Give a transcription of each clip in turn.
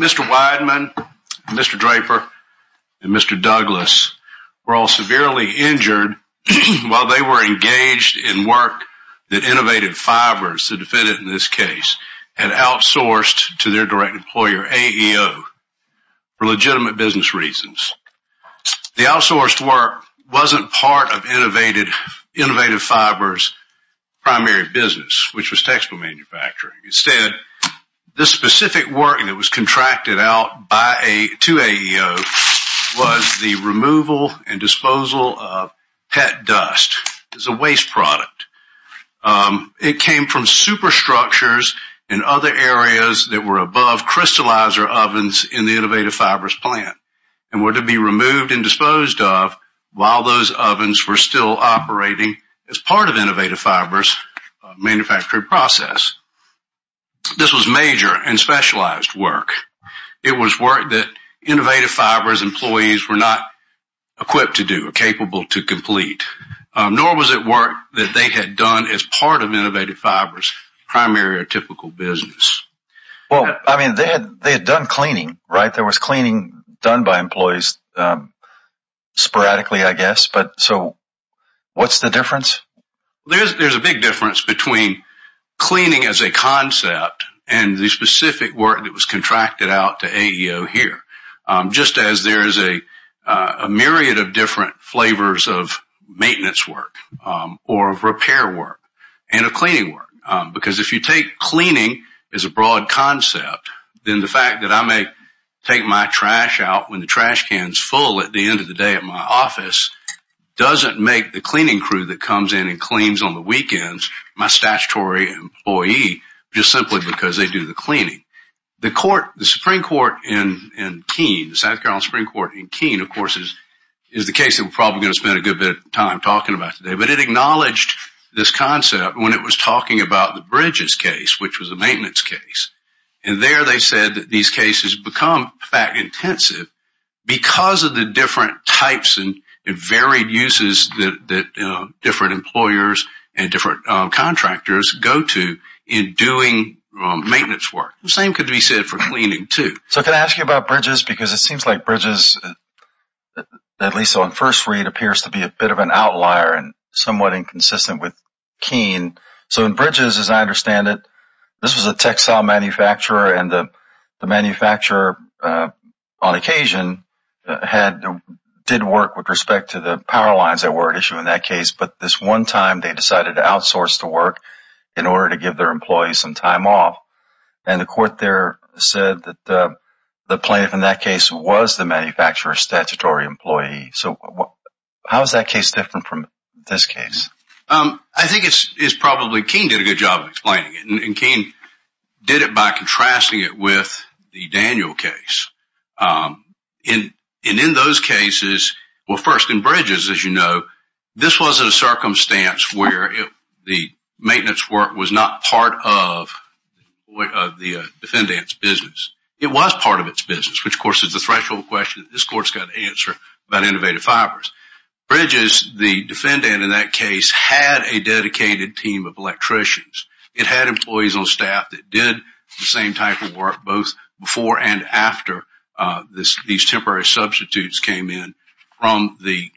Mr. Wideman, Mr. Draper, and Mr. Douglas were all severely injured while they were engaged in work that Innovative Fibers, the defendant in this case, had outsourced to their direct employer, AEO, for legitimate business reasons. The outsourced work wasn't part of Innovative Fibers' primary business, which was textile manufacturing. Instead, the specific work that was contracted out to AEO was the removal and disposal of pet dust. It's a waste product. It came from superstructures and other areas that were above crystallizer ovens in the Innovative Fibers plant and were to be removed and disposed of while those ovens were still It was work that Innovative Fibers employees were not equipped to do or capable to complete, nor was it work that they had done as part of Innovative Fibers' primary or typical business. Well, I mean, they had done cleaning, right? There was cleaning done by employees sporadically, There's a big difference between cleaning as a concept and the specific work that was contracted out to AEO here, just as there is a myriad of different flavors of maintenance work or of repair work and of cleaning work. Because if you take cleaning as a broad concept, then the fact that I may take my trash out when the trash can is full at the end of the day at my office doesn't make the cleaning crew that comes in and cleans on the weekends my statutory employee, just simply because they do the cleaning. The Supreme Court in Keene, the South Carolina Supreme Court in Keene, of course, is the case that we're probably going to spend a good bit of time talking about today, but it acknowledged this concept when it was talking about the Bridges case, which was a maintenance case. And there they said that these cases become fact-intensive because of the different types and varied uses that different employers and different contractors go to in doing maintenance work. The same could be said for cleaning, too. So can I ask you about Bridges? Because it seems like Bridges, at least on first read, appears to be a bit of an outlier and somewhat inconsistent with Keene. So in Bridges, as I understand it, this was a textile manufacturer and the manufacturer, on occasion, did work with respect to the power lines that were at issue in that case, but this one time they decided to outsource the work in order to give their employees some time off. And the court there said that the plaintiff in that case was the manufacturer's statutory employee. So how is that case different from this case? I think it's probably, Keene did a good job of explaining it, and Keene did it by contrasting it with the Daniel case. And in those cases, well first, in Bridges, as you know, this wasn't a circumstance where the maintenance work was not part of the defendant's business. It was part of its business, which of course is the threshold question that this court has to answer about innovative fibers. Bridges, the defendant in that case, had a dedicated team of electricians. It had employees on staff that did the same type of work both before and after these temporary substitutes came in from the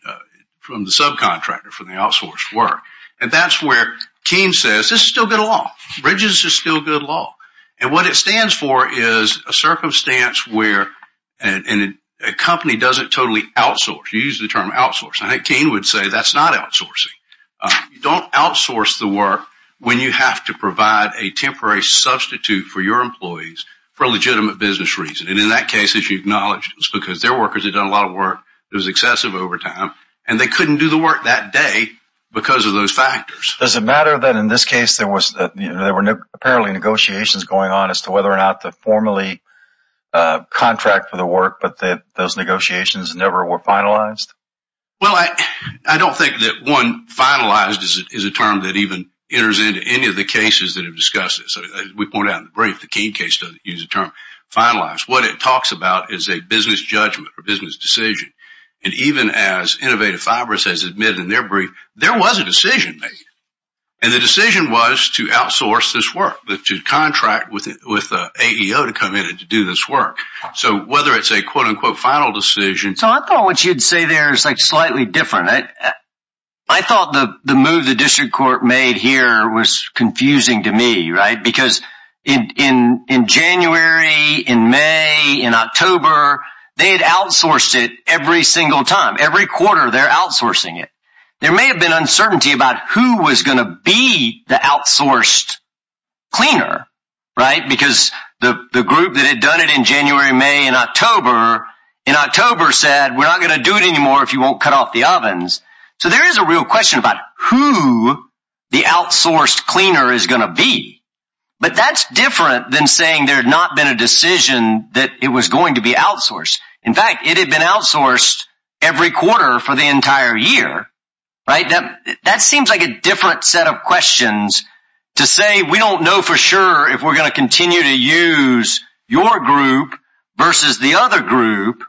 subcontractor, from the outsourced work. And that's where Keene says, this is still good law. Bridges is still good law. And what it stands for is a circumstance where a company doesn't totally outsource. You use the term outsource. I think Keene would say that's not outsourcing. You don't outsource the work when you have to provide a temporary substitute for your employees for a legitimate business reason. And in that case, as you acknowledged, it was because their workers had done a lot of work, it was excessive overtime, and they couldn't do the work that day because of those factors. Does it matter that in this case, there were apparently negotiations going on as to whether or not to formally contract for the work, but that those negotiations never were finalized? Well, I don't think that one finalized is a term that even enters into any of the cases that are discussed. As we pointed out in the brief, the Keene case doesn't use the term finalized. What it talks about is a business judgment or business decision. And even as And the decision was to outsource this work, to contract with the AEO to come in and to do this work. So whether it's a quote-unquote final decision... So I thought what you'd say there is slightly different. I thought the move the district court made here was confusing to me, right? Because in January, in May, in October, they'd outsourced it every single time. Every quarter, they're outsourcing it. There may have been a decision that it was going to be the outsourced cleaner, right? Because the group that had done it in January, May, and October, in October said, we're not going to do it anymore if you won't cut off the ovens. So there is a real question about who the outsourced cleaner is going to be. But that's different than saying there had not been a decision that it was going to be outsourced. In fact, it had been outsourced every quarter for the court set up questions to say, we don't know for sure if we're going to continue to use your group versus the other group.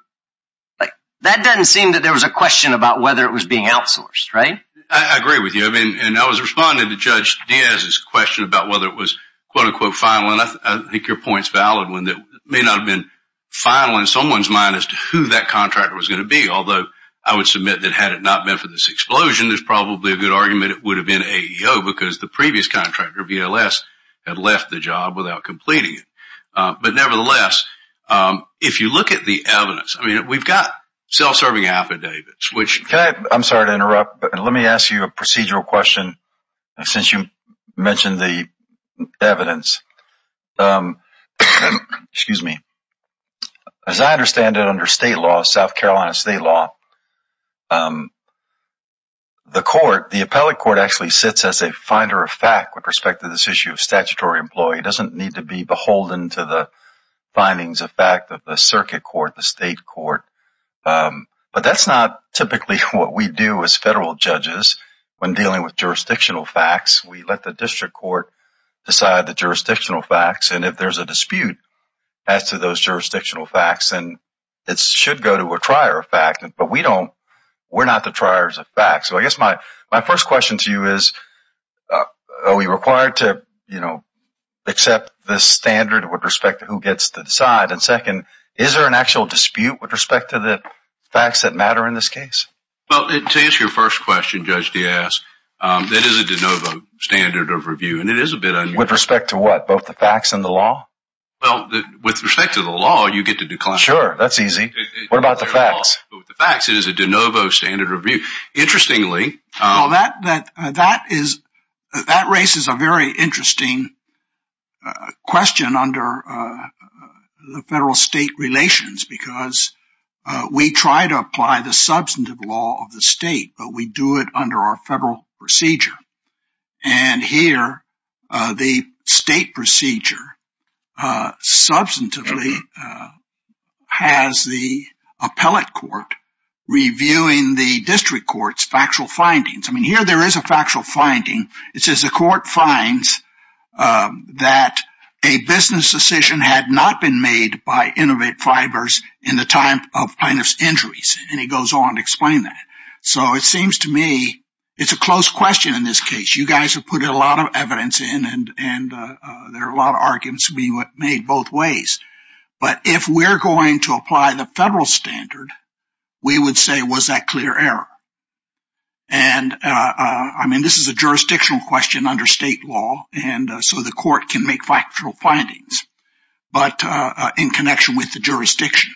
That doesn't seem that there was a question about whether it was being outsourced, right? I agree with you. I mean, and I was responding to Judge Diaz's question about whether it was quote-unquote final. And I think your point's valid when that may not have been final in someone's mind as to who that contractor was going to be. Although I would submit that had it not been for this explosion, there's the previous contractor, VLS, had left the job without completing it. But nevertheless, if you look at the evidence, I mean, we've got self-serving affidavits, which- Can I, I'm sorry to interrupt, but let me ask you a procedural question since you mentioned the evidence. As I understand it under state law, South Carolina state law, the court, actually sits as a finder of fact with respect to this issue of statutory employee. It doesn't need to be beholden to the findings of fact of the circuit court, the state court. But that's not typically what we do as federal judges when dealing with jurisdictional facts. We let the district court decide the jurisdictional facts. And if there's a dispute as to those jurisdictional facts, then it should go to a trier of fact. But we don't, we're not the are we required to accept this standard with respect to who gets to decide? And second, is there an actual dispute with respect to the facts that matter in this case? Well, to answer your first question, Judge Diaz, that is a de novo standard of review, and it is a bit- With respect to what? Both the facts and the law? Well, with respect to the law, you get to decline. Sure, that's easy. What about the facts? With the facts, it is a de novo standard of review. Interestingly- That raises a very interesting question under the federal state relations because we try to apply the substantive law of the state, but we do it under our federal procedure. And here, the state procedure substantively has the appellate court reviewing the district court's factual findings. I mean, here there is a factual finding. It says the court finds that a business decision had not been made by Innovate Fibers in the time of plaintiff's injuries. And he goes on to explain that. So it seems to me, it's a close question in this case. You guys have put a lot of evidence in and there are a lot of arguments being made both ways. But if we're going to apply the federal standard, we would say, was that clear error? And I mean, this is a jurisdictional question under state law. And so the court can make factual findings, but in connection with the jurisdiction.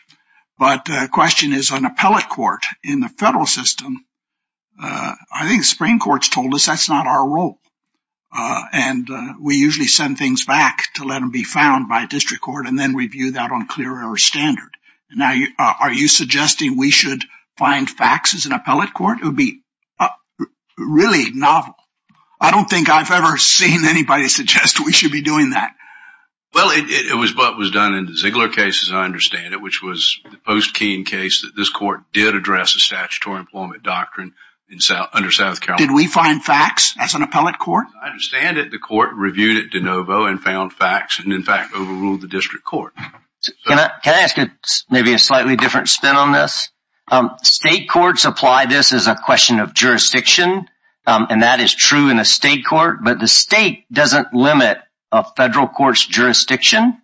But the question is an appellate court in the federal system. I think the Supreme Court's told us that's not our role. And we usually send things back to let them be found by district court and then review that on standard. Now, are you suggesting we should find facts as an appellate court? It would be really novel. I don't think I've ever seen anybody suggest we should be doing that. Well, it was what was done in the Ziegler case, as I understand it, which was the post-Keene case that this court did address the statutory employment doctrine under South Carolina. Did we find facts as an appellate court? I understand that the court reviewed it de court. Can I ask maybe a slightly different spin on this? State courts apply this as a question of jurisdiction. And that is true in a state court. But the state doesn't limit a federal court's jurisdiction.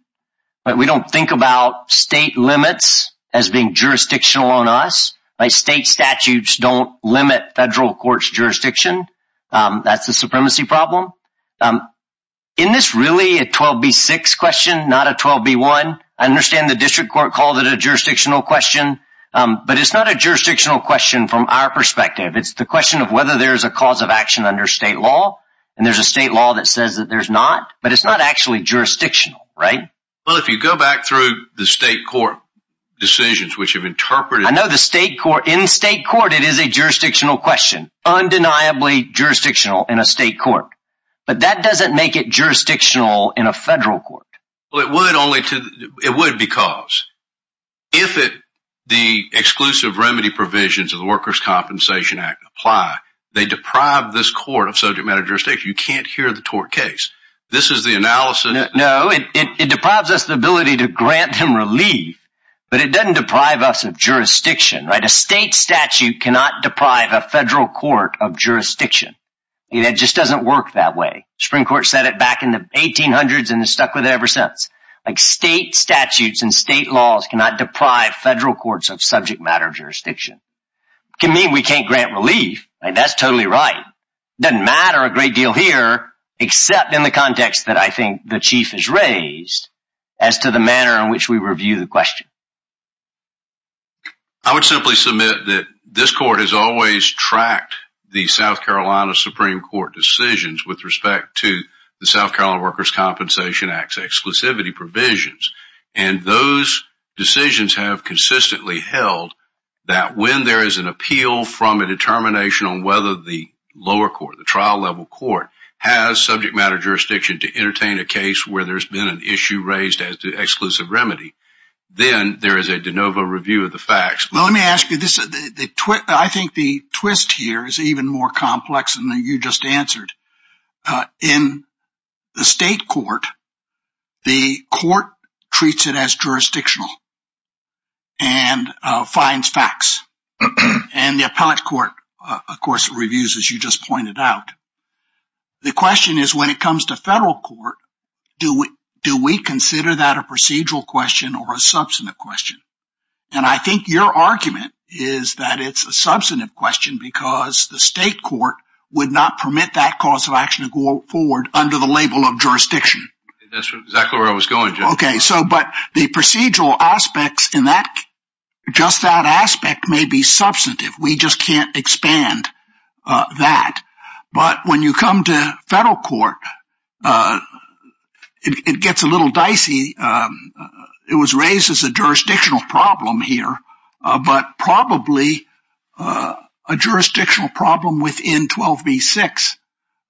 We don't think about state limits as being jurisdictional on us. State statutes don't limit federal courts jurisdiction. That's the supremacy problem. I'm in this really a 12B6 question, not a 12B1. I understand the district court called it a jurisdictional question, but it's not a jurisdictional question from our perspective. It's the question of whether there's a cause of action under state law. And there's a state law that says that there's not, but it's not actually jurisdictional, right? Well, if you go back through the state court decisions, which have interpreted, I know the state court in state court, it is a jurisdictional question, undeniably jurisdictional in a state court, but that doesn't make it jurisdictional in a federal court. Well, it would only to, it would because if it, the exclusive remedy provisions of the workers' compensation act apply, they deprive this court of subject matter jurisdiction. You can't hear the tort case. This is the analysis. No, it deprives us the ability to grant him relief, but it doesn't deprive us of jurisdiction, right? A state statute cannot deprive a federal court of jurisdiction. It just doesn't work that way. The Supreme Court said it back in the 1800s and has stuck with it ever since. Like state statutes and state laws cannot deprive federal courts of subject matter jurisdiction. It can mean we can't grant relief, right? That's totally right. It doesn't matter a great deal here, except in the context that I think the chief has raised as to the manner in which we review the question. I would simply submit that this court has always tracked the South Carolina Supreme Court decisions with respect to the South Carolina Workers' Compensation Act's exclusivity provisions, and those decisions have consistently held that when there is an appeal from a determination on whether the lower court, the trial level court, has subject matter jurisdiction to entertain a case where there's been an issue raised as to exclusive remedy, then there is a de novo review of the facts. Well, let me ask you this. I think the twist here is even more complex than you just answered. In the state court, the court treats it as jurisdictional and finds facts. And the appellate court, of course, reviews as you just pointed out. The question is, when it comes to federal court, do we consider that a procedural question or a substantive question? And I think your argument is that it's a substantive question because the state court would not permit that cause of action to go forward under the label of jurisdiction. That's exactly where I was going, Judge. Okay, so but the procedural aspects in that, just that aspect may be substantive. We just can't expand that. But when you come to federal court, it gets a little dicey. It was raised as a jurisdictional problem here, but probably a jurisdictional problem within 12b-6.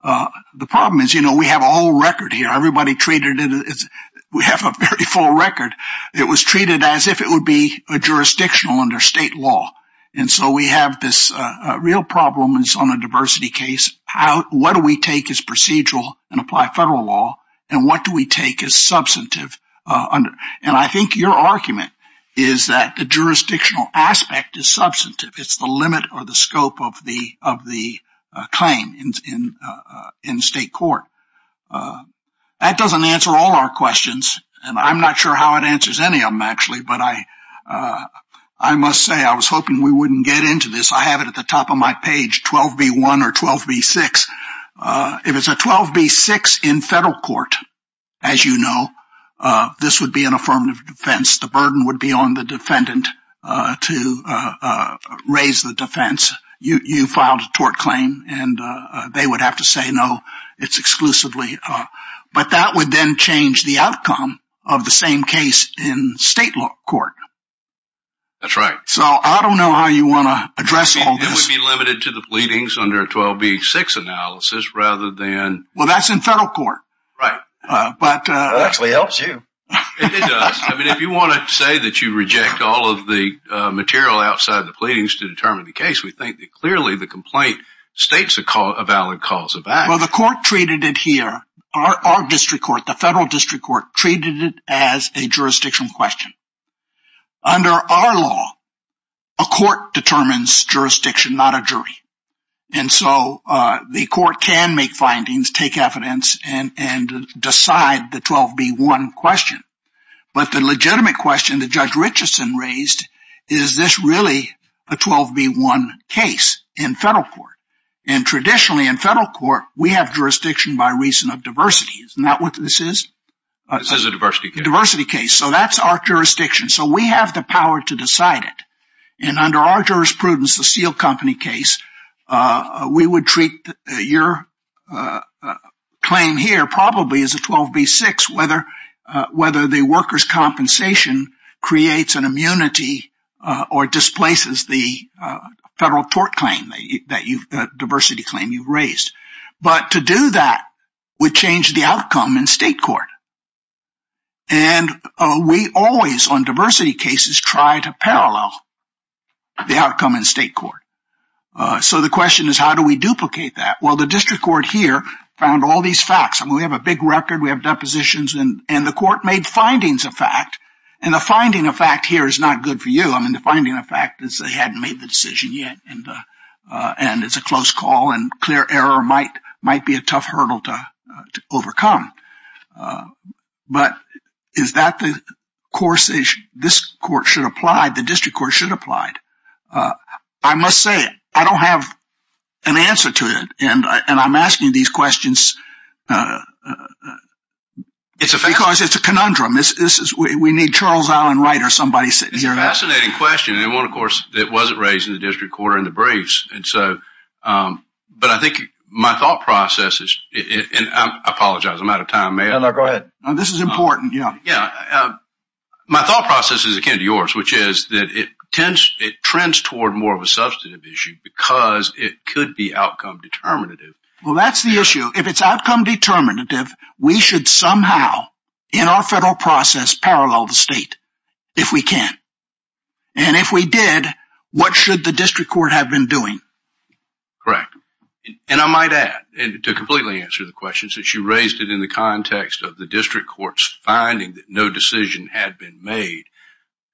The problem is, you know, we have a whole record here. Everybody treated it as we have a very full record. It was treated as if it would be a jurisdictional under state law. And so we have this real problem on a diversity case. What do we take as procedural and apply federal law? And what do we take as substantive? And I think your argument is that the jurisdictional aspect is substantive. It's the limit or the scope of the claim in state court. That doesn't answer all our questions, and I'm not sure how it answers any of them, actually. But I must say, I was hoping we wouldn't get into this. I have it at the top of my page, 12b-1 or 12b-6. If it's a 12b-6 in federal court, as you know, this would be an affirmative defense. The burden would be on the defendant to raise the defense. You filed a tort claim, and they would have to say, no, it's exclusively. But that would then change the outcome of the same case in state court. That's right. So I don't know how you want to address all this. It would be limited to the pleadings under a 12b-6 analysis rather than... Well, that's in federal court. Right. That actually helps you. It does. I mean, if you want to say that you reject all of the state's valid calls of action... Well, the court treated it here, our district court, the federal district court treated it as a jurisdiction question. Under our law, a court determines jurisdiction, not a jury. And so the court can make findings, take evidence, and decide the 12b-1 question. But the legitimate question that Judge Richardson raised, is this really a 12b-1 case in federal court? And traditionally in federal court, we have jurisdiction by reason of diversity. Isn't that what this is? This is a diversity case. Diversity case. So that's our jurisdiction. So we have the power to decide it. And under our jurisprudence, the seal company case, we would treat your claim here probably as a 12b-6, whether the worker's compensation creates an immunity or displaces the federal tort claim, the diversity claim you've raised. But to do that would change the outcome in state court. And we always, on diversity cases, try to parallel the outcome in state court. So the question is, how do we duplicate that? Well, the district court here found all these facts. I mean, we have a big record, we have depositions, and the court made findings of fact. And the finding of fact here is not good for you. I mean, the finding of fact is they hadn't made the decision yet. And it's a close call and clear error might be a tough hurdle to overcome. But is that the court's issue? This court should apply, the district court should apply. I must say, I don't have an answer to it. And I'm asking these questions because it's a conundrum. We need Charles Allen Wright or somebody sitting here. It's a fascinating question. And one, of course, that wasn't raised in the district court or in the briefs. But I think my thought process is, and I apologize, I'm out of time. This is important. Yeah. My thought process is akin to yours, which is that it trends toward more of a substantive issue because it could be outcome determinative. Well, that's the issue. If it's outcome determinative, we should somehow, in our federal process, parallel the state if we can. And if we did, what should the district court have been doing? Correct. And I might add, and to completely answer the question, since you raised it in the context of the district court's finding that no decision had been made,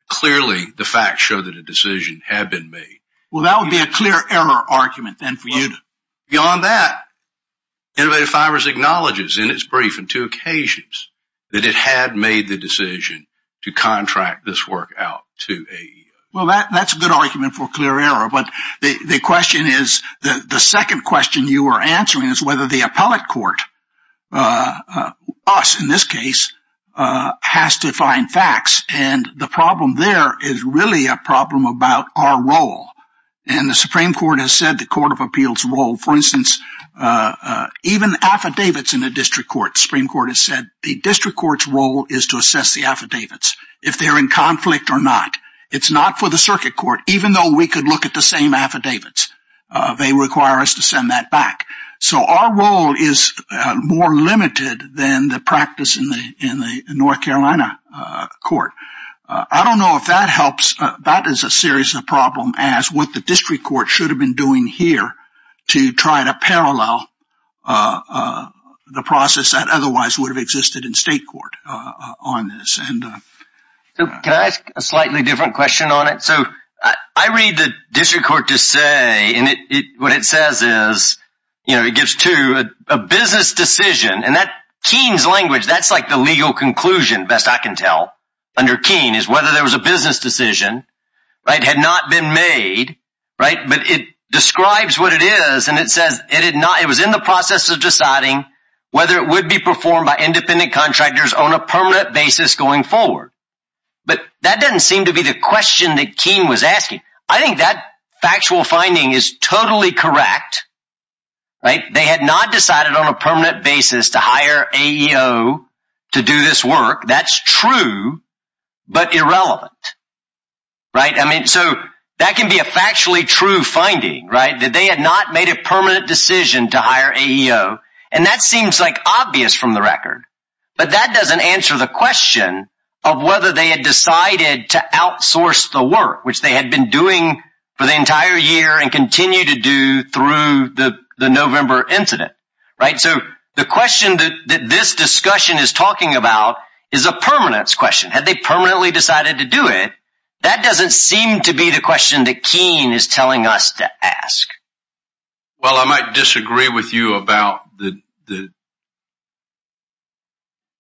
clearly the facts show that a decision had been made. Well, that would be a clear error argument then for you. Beyond that, Innovative Fibers acknowledges in its brief on two occasions that it had made the decision to contract this work out to AEI. Well, that's a good argument for clear error. But the question is, the second question you are answering is whether the appellate court, us in this case, has to find facts. And the problem there is really a problem about our role. And the Supreme Court has said the Court of Appeals role, for instance, even affidavits in a district court, the Supreme Court has said the district court's role is to assess the affidavits, if they're in conflict or not. It's not for the circuit court, even though we could look at the same affidavits. They require us to send that back. So our role is more limited than the practice in the North Carolina court. I don't know if that helps. That is a serious problem as what the district court should have been doing here to try to parallel the process that otherwise would have existed in state court on this. So can I ask a slightly different question on it? So I read the district court to say, and what it says is, you know, it gives to a business decision and that Keene's language, that's like the legal conclusion, best I can tell, under Keene is whether there was a business decision, right, had not been made, right, but it describes what it is. And it says it did not, it was in the process of deciding whether it would be performed by independent contractors on a permanent basis going forward. But that doesn't seem to be the question that Keene was asking. I think that factual finding is totally correct, right? They had not decided on a permanent basis to hire AEO to do this work. That's true, but irrelevant, right? I mean, so that can be a factually true finding, right, that they had not made a permanent decision to hire AEO. And that seems like obvious from the record, but that doesn't answer the question of whether they had decided to outsource the work, which they had been doing for the entire year and continue to do through the November incident, right? So the question that this discussion is talking about is a permanence question, had they permanently decided to do it? That doesn't seem to be the question that Keene is telling us to ask. Well, I might disagree with you about the,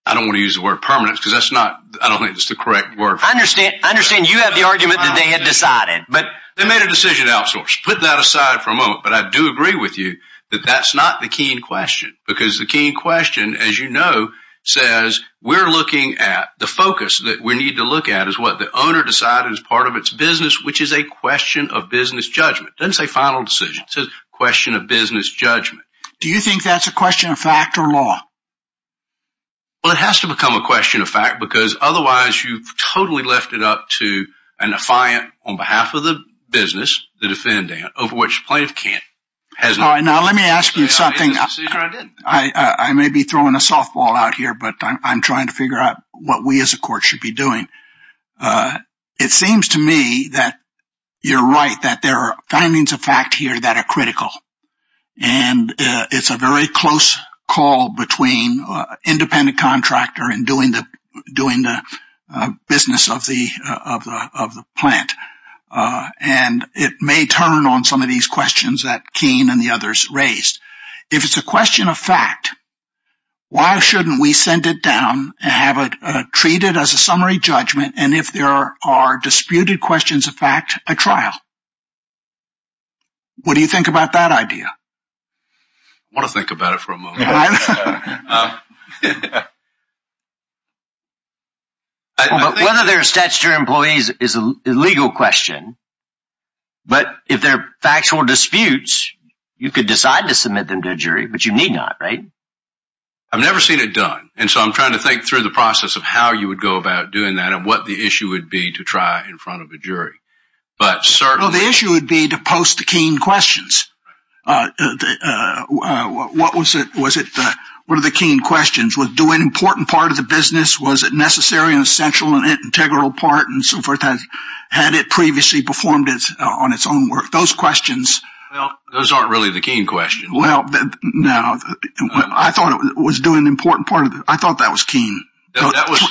I don't want to use the word permanence because that's not, I don't think it's the correct word. I understand, I understand you have the argument that they had decided, but they made a decision to outsource, put that aside for a moment. But I do agree with you that that's not the Keene question, because the Keene question, as you know, says we're looking at the focus that we need to look at is what the owner decided as part of its business, which is a question of business judgment. It doesn't say final decision. It says question of business judgment. Do you think that's a question of fact or law? Well, it has to become a question of fact, because otherwise you've totally left it up to a defiant on behalf of the business, the defendant, over which plaintiff can't. Now let me ask you something. I may be throwing a softball out here, but I'm trying to figure out what we as a court should be doing. It seems to me that you're right, that there are findings of fact here that are critical. And it's a very close call between independent contractor and doing the business of the plant. And it may turn on some of these questions that Keene and the others raised. If it's a question of fact, why shouldn't we send it down and have it treated as a summary judgment, and if there are disputed questions of fact, a trial? What do you think about that idea? I want to think about it for a moment. Whether they're statutory employees is a legal question, but if they're factual disputes, you could decide to submit them to a jury, but you need not, right? I've never seen it done. And so I'm trying to think through the process of how you would go about doing that and what the issue would be to try in front of a jury. But certainly... Post the Keene questions. What are the Keene questions? Was it doing an important part of the business? Was it necessary in a central and integral part and so forth? Had it previously performed on its own work? Those questions... Well, those aren't really the Keene questions. Well, no. I thought it was doing an important part of the... I thought that was Keene. No, that was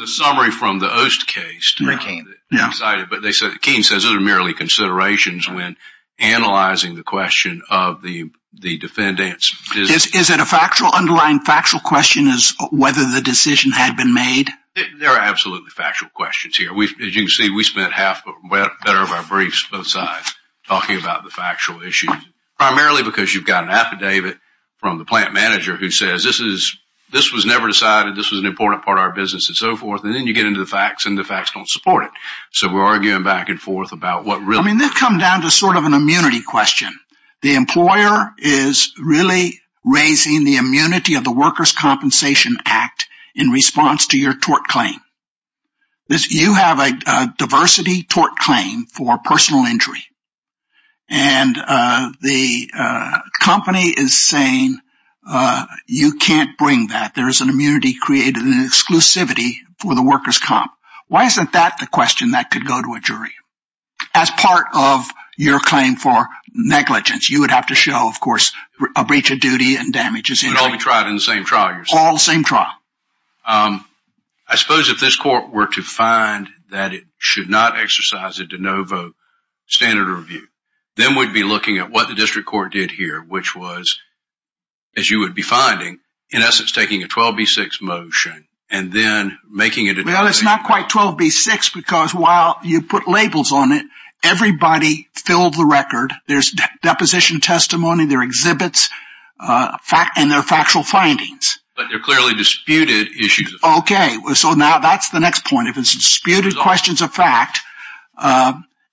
a summary from the Oast case. Excited, but Keene says those are merely considerations when analyzing the question of the defendants. Is it a factual underlying, factual question as whether the decision had been made? They're absolutely factual questions here. As you can see, we spent half of our briefs both sides talking about the factual issues, primarily because you've got an affidavit from the plant manager who says this was never decided, this was an important part of our business and so forth. Then you get into the facts and the facts don't support it. We're arguing back and forth about what really... They've come down to an immunity question. The employer is really raising the immunity of the Workers' Compensation Act in response to your tort claim. You have a diversity tort claim for personal injury. The company is saying you can't bring that. There is an immunity created, an exclusivity for the Workers' Comp. Why isn't that the question that could go to a jury? As part of your claim for negligence, you would have to show, of course, a breach of duty and damages. It would all be tried in the same trial. All the same trial. I suppose if this court were to find that it should not exercise a de novo standard of review, then we'd be looking at what the district court did here, which was, as you would be finding, in essence, taking a 12B6 motion and then making it a... Well, it's not quite 12B6 because while you put labels on it, everybody filled the record. There's deposition testimony, there are exhibits and there are factual findings. But they're clearly disputed issues. Okay. So now that's the next point. If it's disputed questions of fact,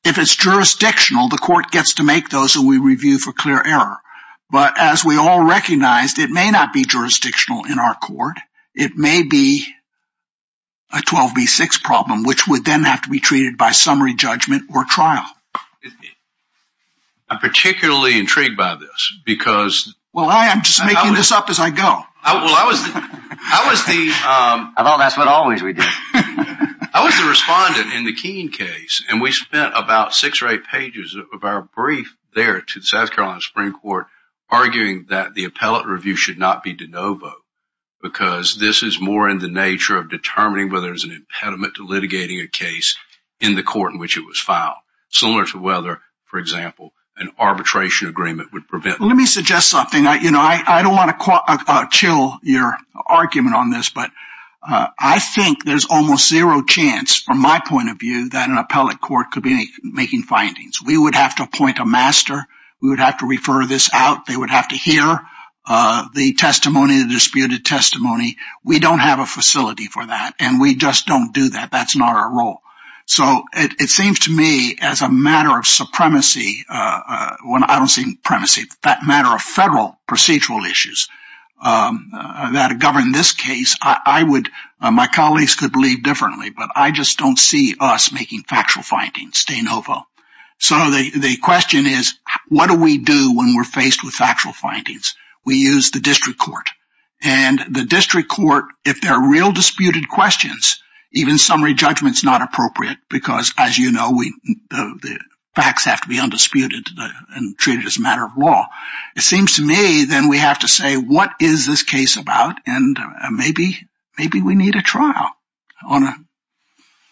if it's jurisdictional, the court gets to make those and we review for clear error. But as we all recognized, it may not be jurisdictional in our court. It may be a 12B6 problem, which would then have to be treated by summary judgment or trial. I'm particularly intrigued by this because... Well, I am just making this up as I go. I was the... I thought that's what always we did. I was the respondent in the Keene case and we spent about six or eight pages of our brief there to the South Carolina Supreme Court arguing that the appellate review should not be de novo because this is more in the nature of determining whether there's an impediment to litigating a case in the court in which it was filed, similar to whether, for example, an arbitration agreement would prevent... Let me suggest something. I don't want to chill your argument on this, but I think there's almost zero chance, from my point of view, that an appellate court could be making findings. We would have to appoint a master. We would have to refer this out. They would have to hear the testimony, the disputed testimony. We don't have a facility for that and we just don't do that. That's not our role. So it seems to me as a matter of supremacy... I don't say supremacy, that matter of federal procedural issues that govern this case, I would... My colleagues could believe differently, but I just don't see us making factual findings de novo. So the question is, what do we do when we're faced with factual findings? We use the district court. And the district court, if there are real disputed questions, even summary judgment is not appropriate because, as you know, the facts have to be undisputed and treated as a matter of law. It seems to me then we have to say, what is this case about? And maybe we need a trial on it.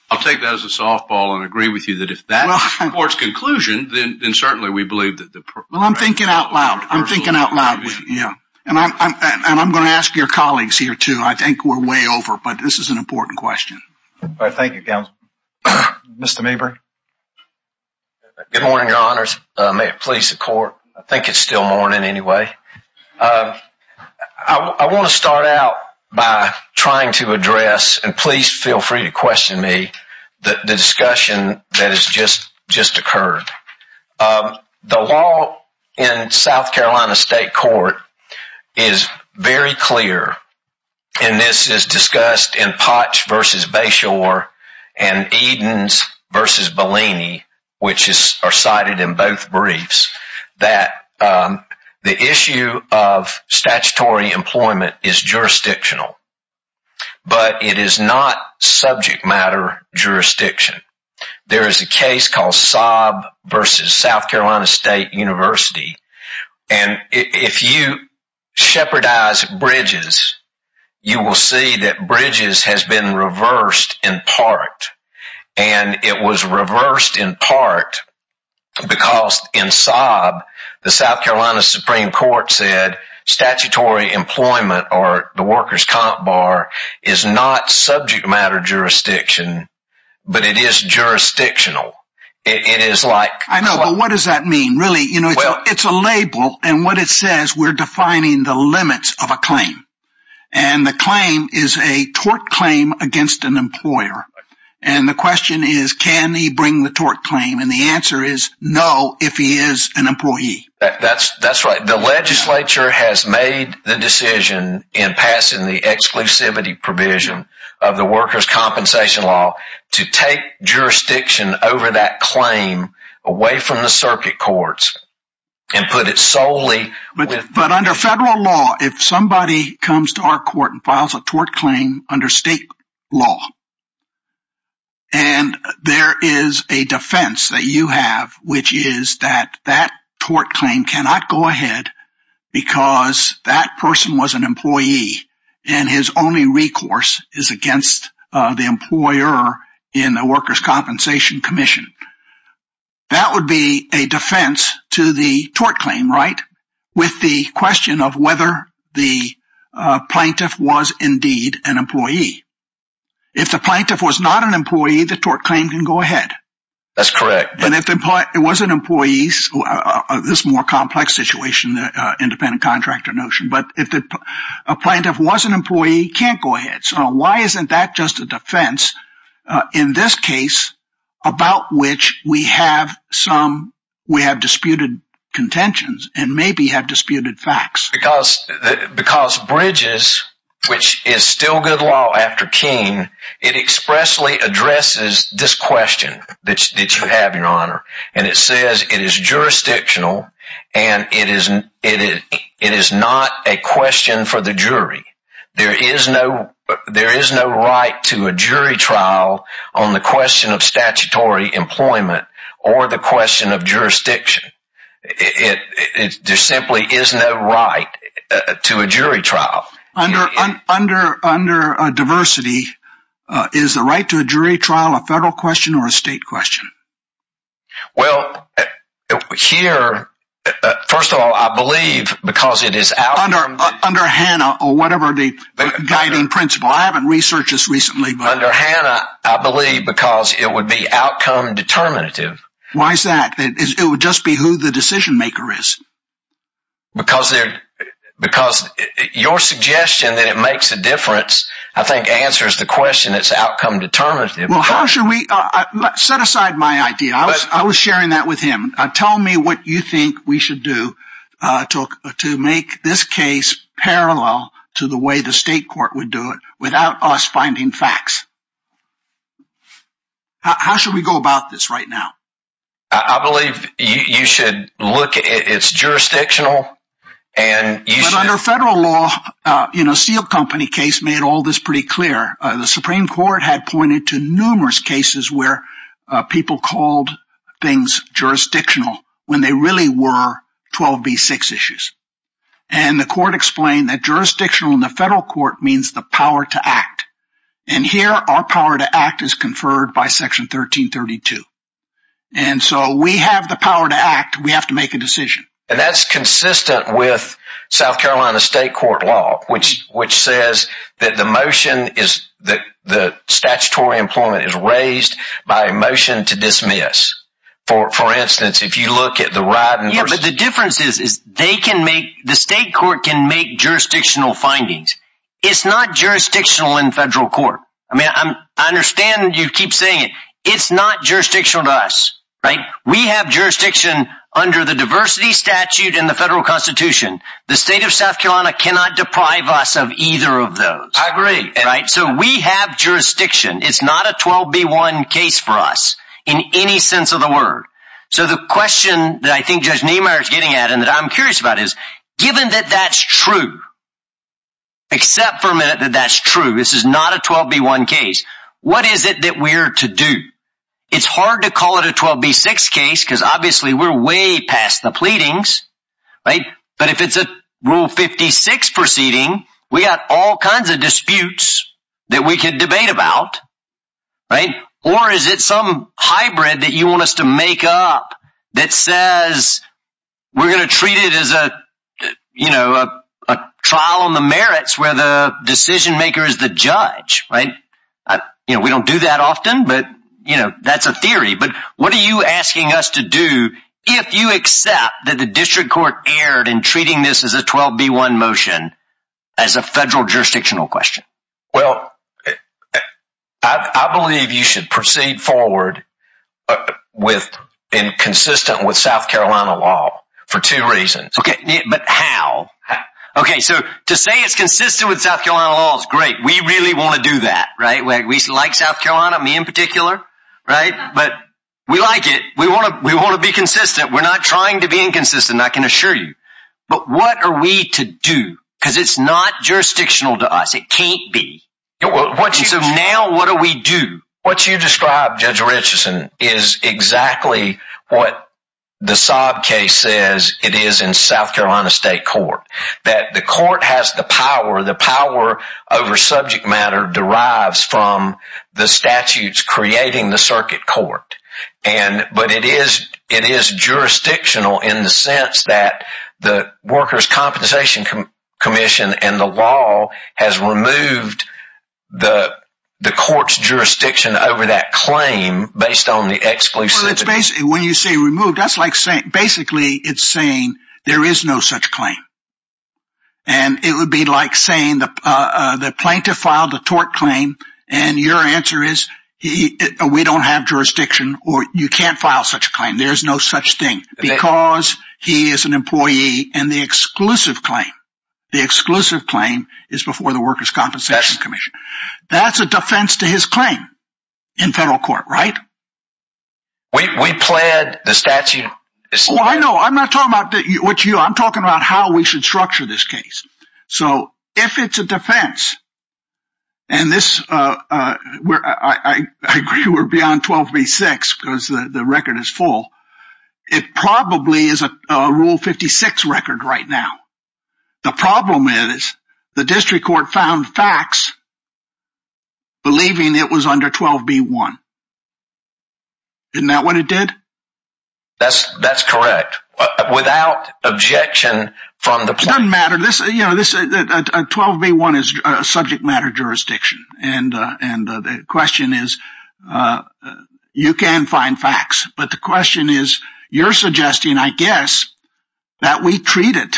I'll take that as a softball and agree with you that if that's the court's conclusion, then certainly we believe that the... Well, I'm thinking out loud. I'm thinking out loud, yeah. And I'm going to ask your colleagues here too. I think we're way over, but this is an important question. All right, thank you, counsel. Mr. Mabry? Good morning, your honors. May it please the court. I think it's still morning anyway. I want to start out by trying to address, and please feel free to question me, the discussion that has just occurred. The law in South Carolina State Court is very clear, and this is discussed in Potts v. Bashore and Edens v. Bellini, which are cited in both briefs. That the issue of statutory employment is jurisdictional, but it is not subject matter jurisdiction. There is a case called Saab v. South Carolina State University. And if you shepherdize bridges, you will see that bridges has been reversed in part. And it was reversed in part because in Saab, the South Carolina Supreme Court said statutory employment, or the workers' comp bar, is not subject matter jurisdiction, but it is jurisdictional. I know, but what does that mean, really? It's a label, and what it says, we're defining the limits of a claim. And the claim is a tort claim against an employer. And the question is, can he bring the tort claim? And the answer is, no, if he is an employee. That's right. The legislature has made the decision in passing the exclusivity provision of the workers' compensation law to take jurisdiction over that claim away from the circuit courts and put it solely with- But under federal law, if somebody comes to our court and files a tort claim under state law, and there is a defense that you have, which is that that tort claim cannot go ahead because that person was an employee and his only recourse is against the employer in the workers' compensation commission. That would be a defense to the tort claim, right? With the question of whether the plaintiff was indeed an employee. If the plaintiff was not an employee, the tort claim can go ahead. That's correct. And if it was an employee, this more complex situation, the independent contractor notion, but if a plaintiff was an employee, he can't go ahead. So why isn't that just a defense in this case about which we have disputed contentions and maybe have disputed facts? Because Bridges, which is still good law after Keene, it expressly addresses this question that you have, Your Honor, and it says it is jurisdictional and it is not a question for the jury. There is no right to a jury trial on the question of statutory employment or the question of jurisdiction. There simply is no right to a jury trial. Under diversity, is the right to a jury trial a federal question or a state question? Well, here, first of all, I believe because it is out... Under HANA or whatever the guiding principle. I haven't researched this recently, but... Under HANA, I believe because it would be outcome determinative. Why is that? It would just be who the decision maker is. Because your suggestion that it makes a difference, I think, answers the question. It's outcome determinative. Well, how should we... Set aside my idea. I was sharing that with him. Tell me what you think we should do to make this case parallel to the way the state court would do it without us finding facts. How should we go about this right now? I believe you should look at... It's jurisdictional and you should... But under federal law, Steel Company case made all this pretty clear. The Supreme Court had pointed to numerous cases where people called things jurisdictional when they really were 12b6 issues. And the court explained that jurisdictional in the federal court means the power to act. And here, our power to act is conferred by section 1332. And so we have the power to act. We have to make a decision. And that's consistent with South Carolina state court law, which says that the motion is that the statutory employment is raised by a motion to dismiss. For instance, if you look at the ride... Yeah, but the difference is they can make... The state court can make jurisdictional findings. It's not jurisdictional in federal court. I mean, I understand you keep saying it. It's not jurisdictional to us, right? We have jurisdiction under the diversity statute in the federal constitution. The state of South Carolina cannot deprive us of either of those. I agree. Right? So we have jurisdiction. It's not a 12b1 case for us in any sense of the word. So the question that I think Judge Niemeyer is getting at and that I'm curious about is, given that that's true, except for a minute that that's true. This is not a 12b1 case. What is it that we're to do? It's hard to call it a 12b6 case because obviously we're way past the pleadings, right? But if it's a rule 56 proceeding, we got all kinds of disputes that we could debate about, right? Or is it some hybrid that you want us to make up that says we're going to treat it as a, you know, a trial on the merits where the decision maker is the judge, right? You know, we don't do that often, but, you know, that's a theory. But what are you asking us to do if you accept that the district court erred in treating this as a 12b1 motion as a federal jurisdictional question? Well, I believe you should proceed forward with and consistent with South Carolina law for two reasons. Okay, but how? Okay, so to say it's consistent with South Carolina law is great. We really want to do that, right? We like South Carolina, me in particular, right? But we like it. We want to be consistent. We're not trying to be inconsistent, I can assure you. But what are we to do? Because it's not jurisdictional to us. It can't be. So now what do we do? What you described, Judge Richardson, is exactly what the Saab case says it is in South Carolina State Court. That the court has the power. The power over subject matter derives from the statutes creating the circuit court. But it is jurisdictional in the sense that the Workers' Compensation Commission and the law has removed the court's jurisdiction over that claim based on the exclusivity. When you say removed, that's like basically it's saying there is no such claim. And it would be like saying the plaintiff filed a tort claim and your answer is, we don't have jurisdiction or you can't file such a claim. There's no such thing because he is an employee and the exclusive claim, the exclusive claim is before the Workers' Compensation Commission. That's a defense to his claim in federal court, right? We plaid the statute. I'm not talking about you. I'm talking about how we should structure this case. So if it's a defense and I agree we're beyond 12B6 because the record is full. It probably is a Rule 56 record right now. The problem is the district court found facts believing it was under 12B1. Isn't that what it did? That's correct. Without objection from the plaintiff. It doesn't matter. 12B1 is a subject matter jurisdiction. And the question is, you can find facts. But the question is, you're suggesting, I guess, that we treat it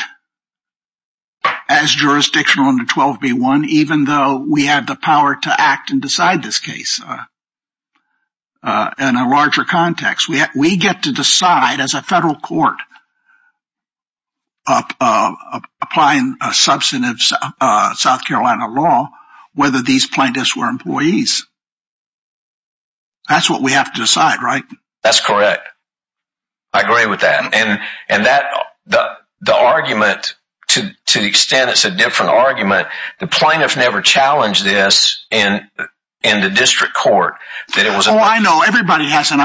as jurisdictional under 12B1 even though we have the power to act and decide this case in a larger context. We get to decide as a federal court applying substantive South Carolina law whether these plaintiffs were employees. That's what we have to decide, right? That's correct. I agree with that. And the argument, to the extent it's a different argument, the plaintiffs never challenged this in the district court. I know. Everybody hasn't.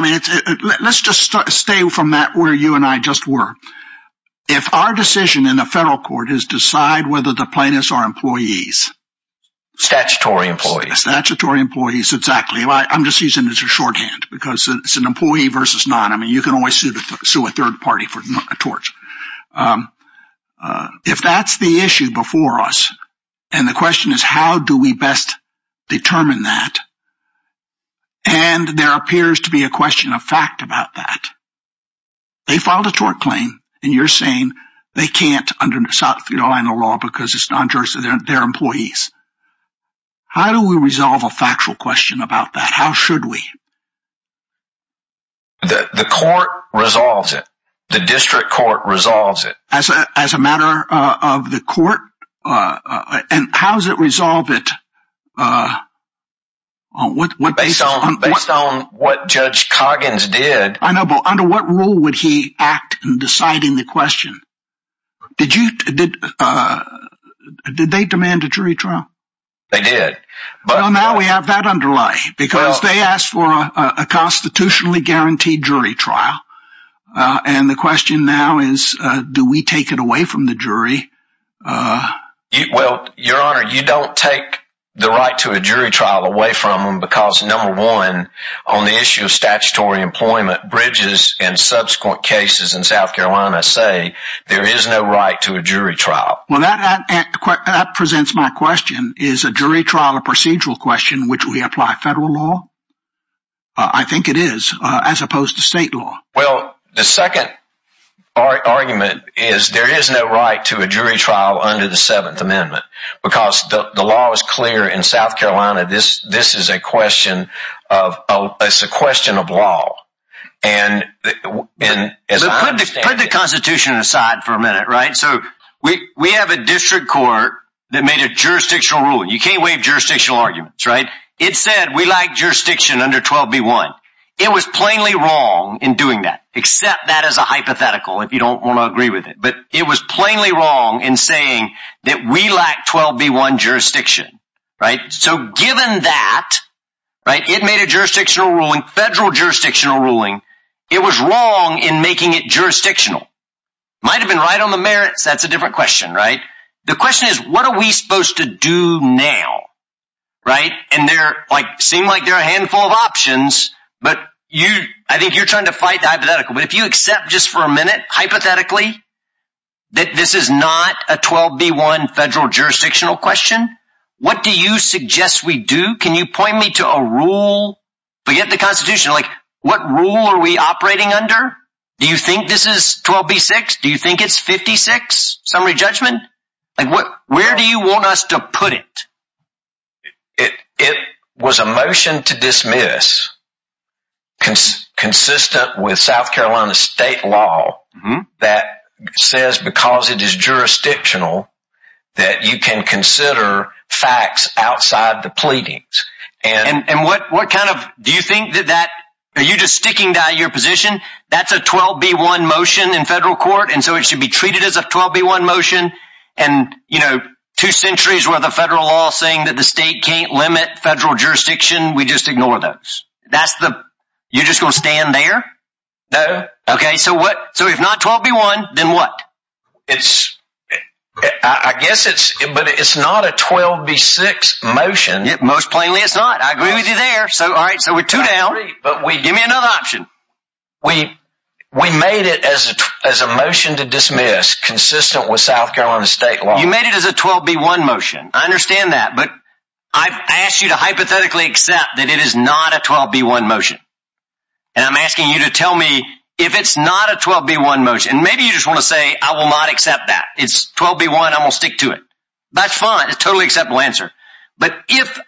Let's just stay from that where you and I just were. If our decision in the federal court is decide whether the plaintiffs are employees. Statutory employees. Statutory employees. Exactly. I'm just using this as a shorthand because it's an employee versus not. I mean, you can always sue a third party for a torch. If that's the issue before us, and the question is, how do we best determine that? And there appears to be a question of fact about that. They filed a tort claim, and you're saying they can't under South Carolina law because it's non-jurisdictional, they're employees. How do we resolve a factual question about that? How should we? The court resolves it. The district court resolves it. As a matter of the court, and how does it resolve it? Based on what Judge Coggins did. I know, but under what rule would he act in deciding the question? Did they demand a jury trial? They did. Now we have that underlie because they asked for a constitutionally guaranteed jury trial. And the question now is, do we take it away from the jury? Well, your honor, you don't take the right to a jury trial away from them because number one, on the issue of statutory employment bridges and subsequent cases in South Carolina say there is no right to a jury trial. Well, that presents my question. Is a jury trial a procedural question which we apply federal law? I think it is, as opposed to state law. Well, the second argument is there is no right to a jury trial under the 7th Amendment because the law is clear in South Carolina. This is a question of law. Put the constitution aside for a minute, right? So we have a district court that made a jurisdictional rule. You can't waive jurisdictional arguments, right? It said we like jurisdiction under 12b1. It was plainly wrong in doing that. Except that is a hypothetical if you don't want to agree with it. But it was plainly wrong in saying that we lack 12b1 jurisdiction, right? So given that, right, it made a jurisdictional ruling, federal jurisdictional ruling. It was wrong in making it jurisdictional. Might have been right on the merits. That's a different question, right? The question is, what are we supposed to do now, right? Seem like there are a handful of options, but I think you're trying to fight the hypothetical. But if you accept just for a minute, hypothetically, that this is not a 12b1 federal jurisdictional question, what do you suggest we do? Can you point me to a rule? Forget the constitution, like what rule are we operating under? Do you think this is 12b6? Do you think it's 56, summary judgment? Where do you want us to put it? It was a motion to dismiss consistent with South Carolina state law that says, because it is jurisdictional, that you can consider facts outside the pleadings. And what kind of, do you think that that, are you just sticking that in your position? That's a 12b1 motion in federal court. And so it should be treated as a 12b1 motion. And, you know, two centuries worth of federal law saying that the state can't limit federal jurisdiction. We just ignore those. That's the, you're just going to stand there? No. Okay, so what, so if not 12b1, then what? It's, I guess it's, but it's not a 12b6 motion. Most plainly, it's not. I agree with you there. So, all right, so we're two down. But we, give me another option. We made it as a motion to dismiss consistent with South Carolina state law. You made it as a 12b1 motion. I understand that. But I've asked you to hypothetically accept that it is not a 12b1 motion. And I'm asking you to tell me if it's not a 12b1 motion. Maybe you just want to say, I will not accept that. It's 12b1. I'm going to stick to it. That's fine. It's a totally acceptable answer. But if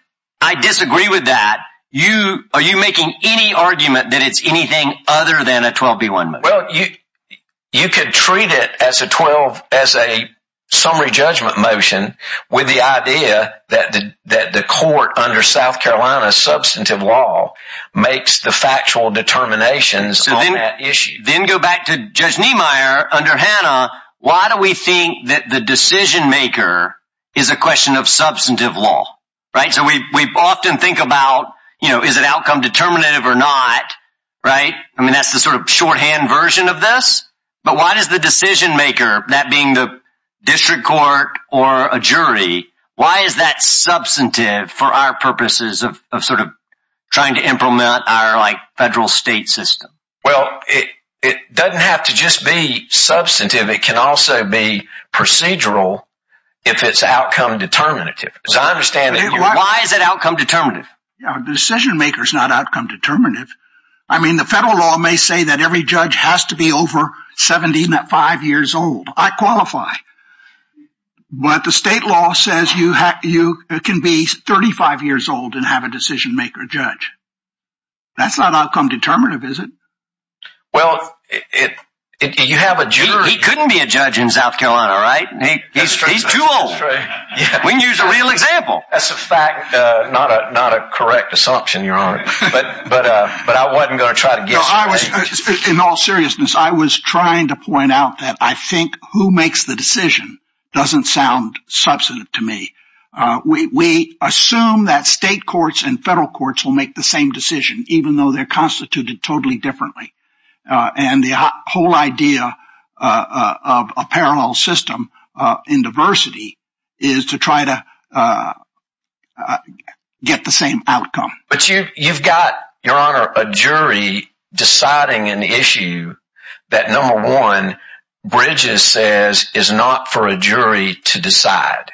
I disagree with that, you, are you making any argument that it's anything other than a 12b1 motion? Well, you could treat it as a 12, as a summary judgment motion with the idea that the court under South Carolina substantive law makes the factual determinations on that issue. Then go back to Judge Niemeyer under Hannah. Why do we think that the decision maker is a question of substantive law, right? So we often think about, you know, is it outcome determinative or not, right? I mean, that's the sort of shorthand version of this. But why does the decision maker, that being the district court or a jury, why is that substantive for our purposes of sort of trying to implement our like federal state system? Well, it doesn't have to just be substantive. It can also be procedural if it's outcome determinative, as I understand it. Why is it outcome determinative? The decision maker is not outcome determinative. I mean, the federal law may say that every judge has to be over 75 years old. I qualify. But the state law says you can be 35 years old and have a decision maker judge. That's not outcome determinative, is it? Well, you have a jury. He couldn't be a judge in South Carolina, right? He's too old. We can use a real example. That's a fact, not a correct assumption, Your Honor. But I wasn't going to try to guess. In all seriousness, I was trying to point out that I think who makes the decision doesn't sound substantive to me. We assume that state courts and federal courts will make the same decision, even though they're constituted totally differently. And the whole idea of a parallel system in diversity is to try to get the same outcome. But you've got, Your Honor, a jury deciding an issue that, number one, Bridges says is not for a jury to decide.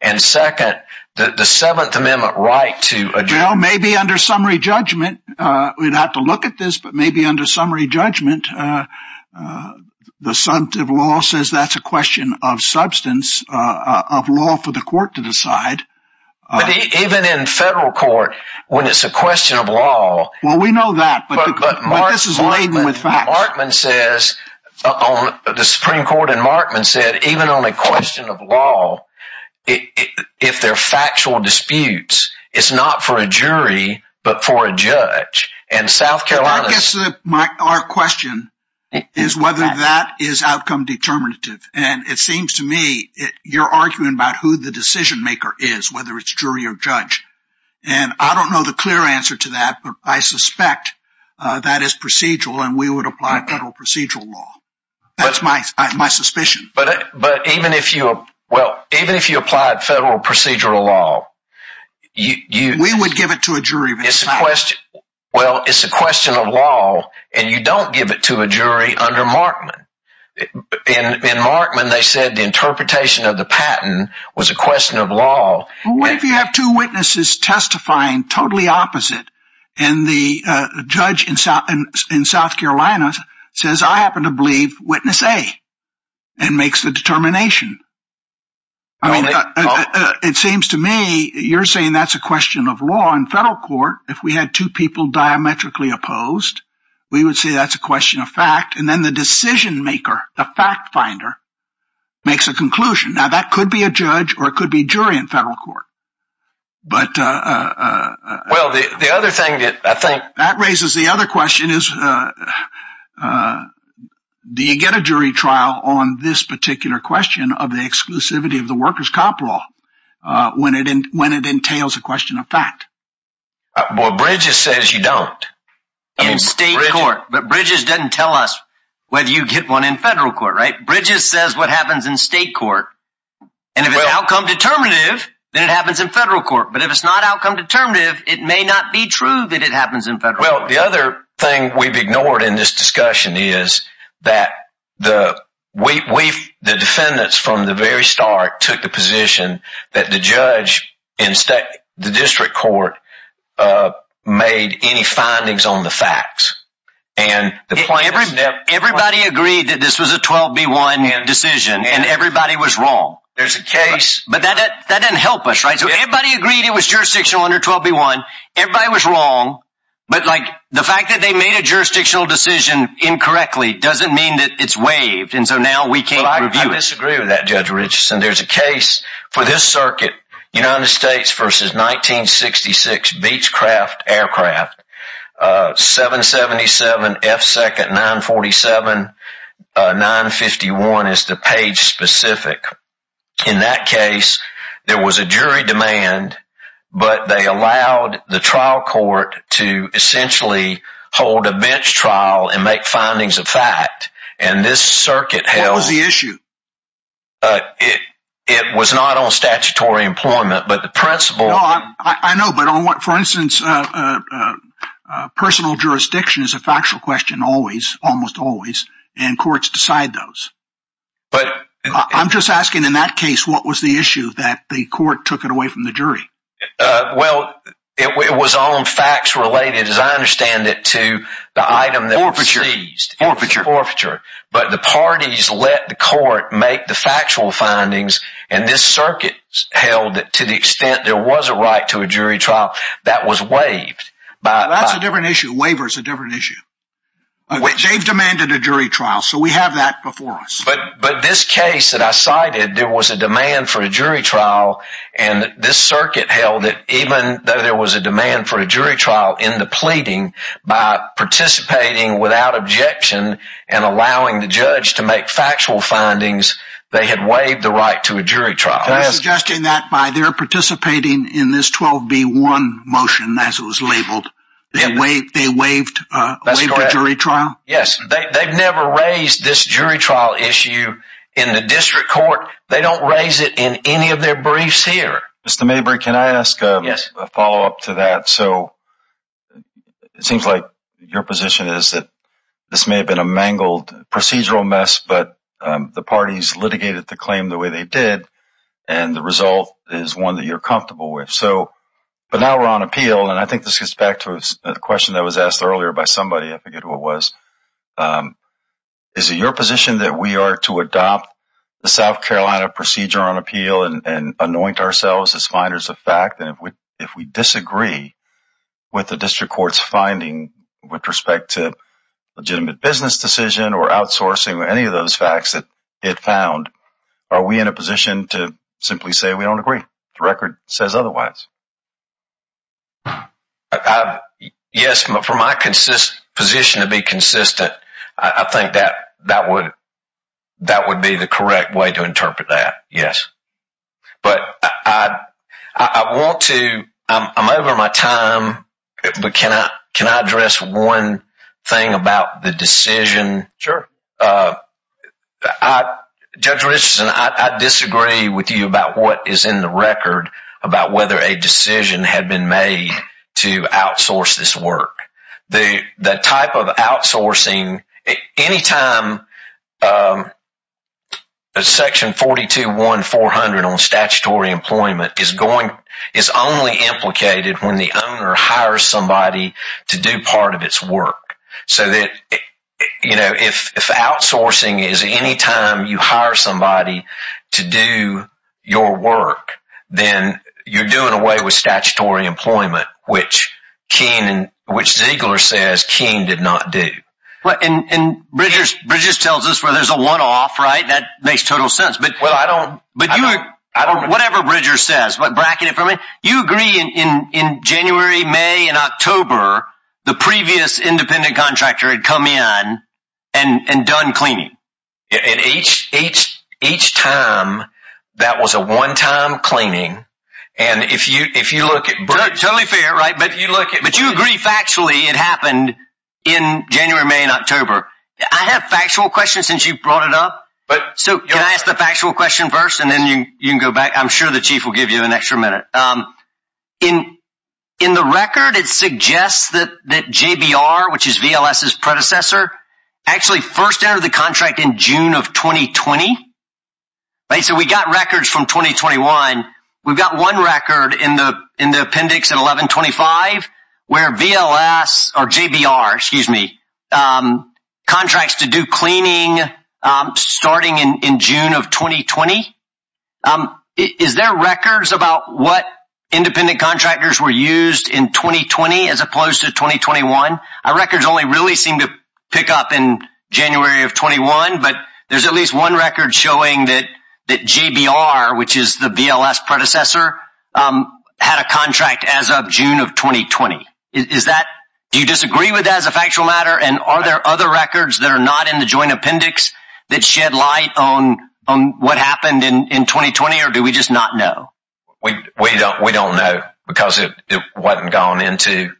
And second, the Seventh Amendment right to a jury... Maybe under summary judgment, we'd have to look at this, but maybe under summary judgment, the substantive law says that's a question of substance, of law for the court to decide. Even in federal court, when it's a question of law... Well, we know that, but this is laden with facts. Markman says, the Supreme Court and Markman said, even on a question of law, if they're factual disputes, it's not for a jury, but for a judge. And South Carolina... I guess our question is whether that is outcome determinative. And it seems to me you're arguing about who the decision maker is, whether it's jury or judge. And I don't know the clear answer to that, but I suspect that is procedural and we would apply federal procedural law. That's my suspicion. But even if you, well, even if you applied federal procedural law... We would give it to a jury. Well, it's a question of law and you don't give it to a jury under Markman. In Markman, they said the interpretation of the patent was a question of law. What if you have two witnesses testifying totally opposite? And the judge in South Carolina says, I happen to believe witness A. And makes the determination. I mean, it seems to me you're saying that's a question of law in federal court. If we had two people diametrically opposed, we would say that's a question of fact. And then the decision maker, the fact finder makes a conclusion. Now that could be a judge or it could be jury in federal court. But... Well, the other thing that I think... Do you get a jury trial on this particular question of the exclusivity of the workers' cop law when it entails a question of fact? Well, Bridges says you don't. In state court. But Bridges doesn't tell us whether you get one in federal court, right? Bridges says what happens in state court. And if it's outcome determinative, then it happens in federal court. But if it's not outcome determinative, it may not be true that it happens in federal court. The other thing we've ignored in this discussion is that the defendants from the very start took the position that the judge in the district court made any findings on the facts. Everybody agreed that this was a 12-B-1 decision and everybody was wrong. There's a case... But that doesn't help us, right? So everybody agreed it was jurisdictional under 12-B-1. Everybody was wrong. But, like, the fact that they made a jurisdictional decision incorrectly doesn't mean that it's waived. And so now we can't review it. I disagree with that, Judge Richardson. There's a case for this circuit, United States v. 1966, Beechcraft Aircraft, 777-F2-947-951 is the page specific. In that case, there was a jury demand, but they allowed the trial court to essentially hold a bench trial and make findings of fact. And this circuit held... What was the issue? It was not on statutory employment, but the principle... No, I know. But for instance, personal jurisdiction is a factual question always, almost always, and courts decide those. But... I'm just asking, in that case, what was the issue that the court took it away from the jury? Well, it was on facts related, as I understand it, to the item that was seized. Forfeiture. Forfeiture. But the parties let the court make the factual findings, and this circuit held that to the extent there was a right to a jury trial, that was waived by... That's a different issue. Waiver is a different issue. They've demanded a jury trial. So we have that before us. But this case that I cited, there was a demand for a jury trial, and this circuit held that even though there was a demand for a jury trial in the pleading, by participating without objection and allowing the judge to make factual findings, they had waived the right to a jury trial. Suggesting that by their participating in this 12B1 motion, as it was labeled, they waived a jury trial? Yes, they've never raised this jury trial issue in the district court. They don't raise it in any of their briefs here. Mr. Mabry, can I ask a follow-up to that? So it seems like your position is that this may have been a mangled procedural mess, but the parties litigated the claim the way they did, and the result is one that you're comfortable with. But now we're on appeal, and I think this gets back to a question that was asked earlier by somebody, I forget who it was. Is it your position that we are to adopt the South Carolina procedure on appeal and anoint ourselves as finders of fact? And if we disagree with the district court's finding with respect to legitimate business decision or outsourcing or any of those facts that it found, are we in a position to simply say we don't agree? The record says otherwise. Yes, but for my position to be consistent, I think that would be the correct way to interpret that, yes. But I want to, I'm over my time, but can I address one thing about the decision? Sure. Judge Richardson, I disagree with you about what is in the record about whether a district decision had been made to outsource this work. The type of outsourcing, any time section 421400 on statutory employment is only implicated when the owner hires somebody to do part of its work. So that, you know, if outsourcing is any time you hire somebody to do your work, then you're getting away with statutory employment, which King, which Ziegler says King did not do. And Bridges tells us where there's a one-off, right? That makes total sense. But whatever Bridges says, bracket it for me, you agree in January, May and October, the previous independent contractor had come in and done cleaning? And each time, that was a one-time cleaning. And if you, if you look at, totally fair, right? But you look at, but you agree factually it happened in January, May and October. I have factual questions since you brought it up. But so can I ask the factual question first and then you can go back. I'm sure the chief will give you an extra minute. In the record, it suggests that JBR, which is VLS's predecessor, actually first entered the contract in June of 2020, right? So we got records from 2021. We've got one record in the appendix at 1125 where VLS or JBR, excuse me, contracts to do cleaning starting in June of 2020. Is there records about what independent contractors were used in 2020 as opposed to 2021? Our records only really seem to pick up in January of 21. But there's at least one record showing that JBR, which is the VLS predecessor, had a contract as of June of 2020. Do you disagree with that as a factual matter? And are there other records that are not in the joint appendix that shed light on what happened in 2020? Or do we just not know? We don't know because it wasn't gone into.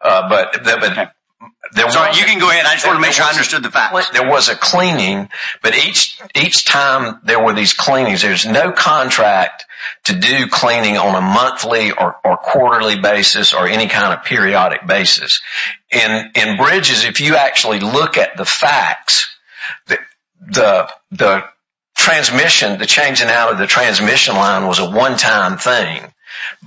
But you can go ahead. I just want to make sure I understood the facts. There was a cleaning, but each time there were these cleanings, there's no contract to do cleaning on a monthly or quarterly basis or any kind of periodic basis. In Bridges, if you actually look at the facts, the transmission, the changing out of the transmission line was a one-time thing.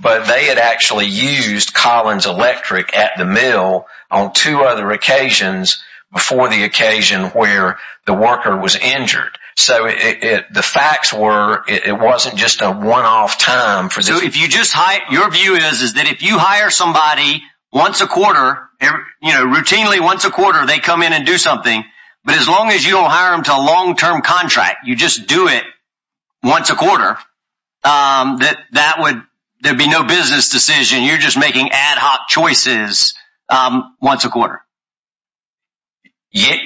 But they had actually used Collins Electric at the mill on two other occasions before the occasion where the worker was injured. The facts were, it wasn't just a one-off time. Your view is that if you hire somebody once a quarter, routinely once a quarter, they come in and do something. But as long as you don't hire them to a long-term contract, you just do it once a quarter, that there would be no business decision. You're just making ad hoc choices once a quarter.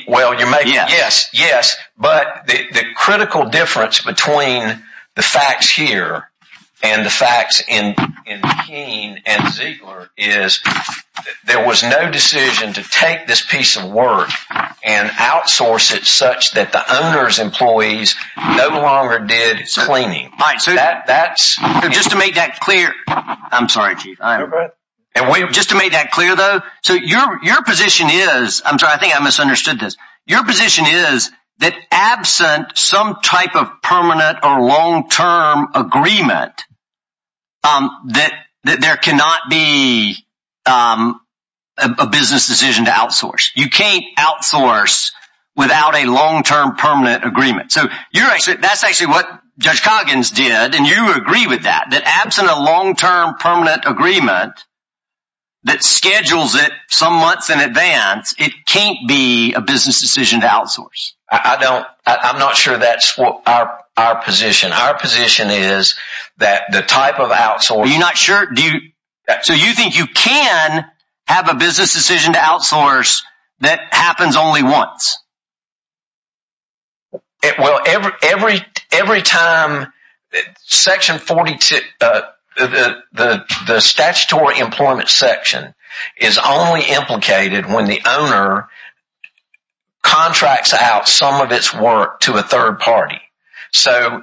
Well, yes, yes. But the critical difference between the facts here and the facts in Keene and Ziegler is there was no decision to take this piece of work and outsource it such that the owner's employees no longer did cleaning. That's just to make that clear. I'm sorry, Chief. Just to make that clear, though. So your position is, I'm sorry, I think I misunderstood this. Your position is that absent some type of permanent or long-term agreement, that there cannot be a business decision to outsource. You can't outsource without a long-term permanent agreement. That's actually what Judge Coggins did. And you agree with that, that absent a long-term permanent agreement that schedules it some months in advance, it can't be a business decision to outsource. I'm not sure that's our position. Our position is that the type of outsource... You're not sure? So you think you can have a business decision to outsource that happens only once? Well, every time Section 42, the statutory employment section is only implicated when the owner contracts out some of its work to a third party. So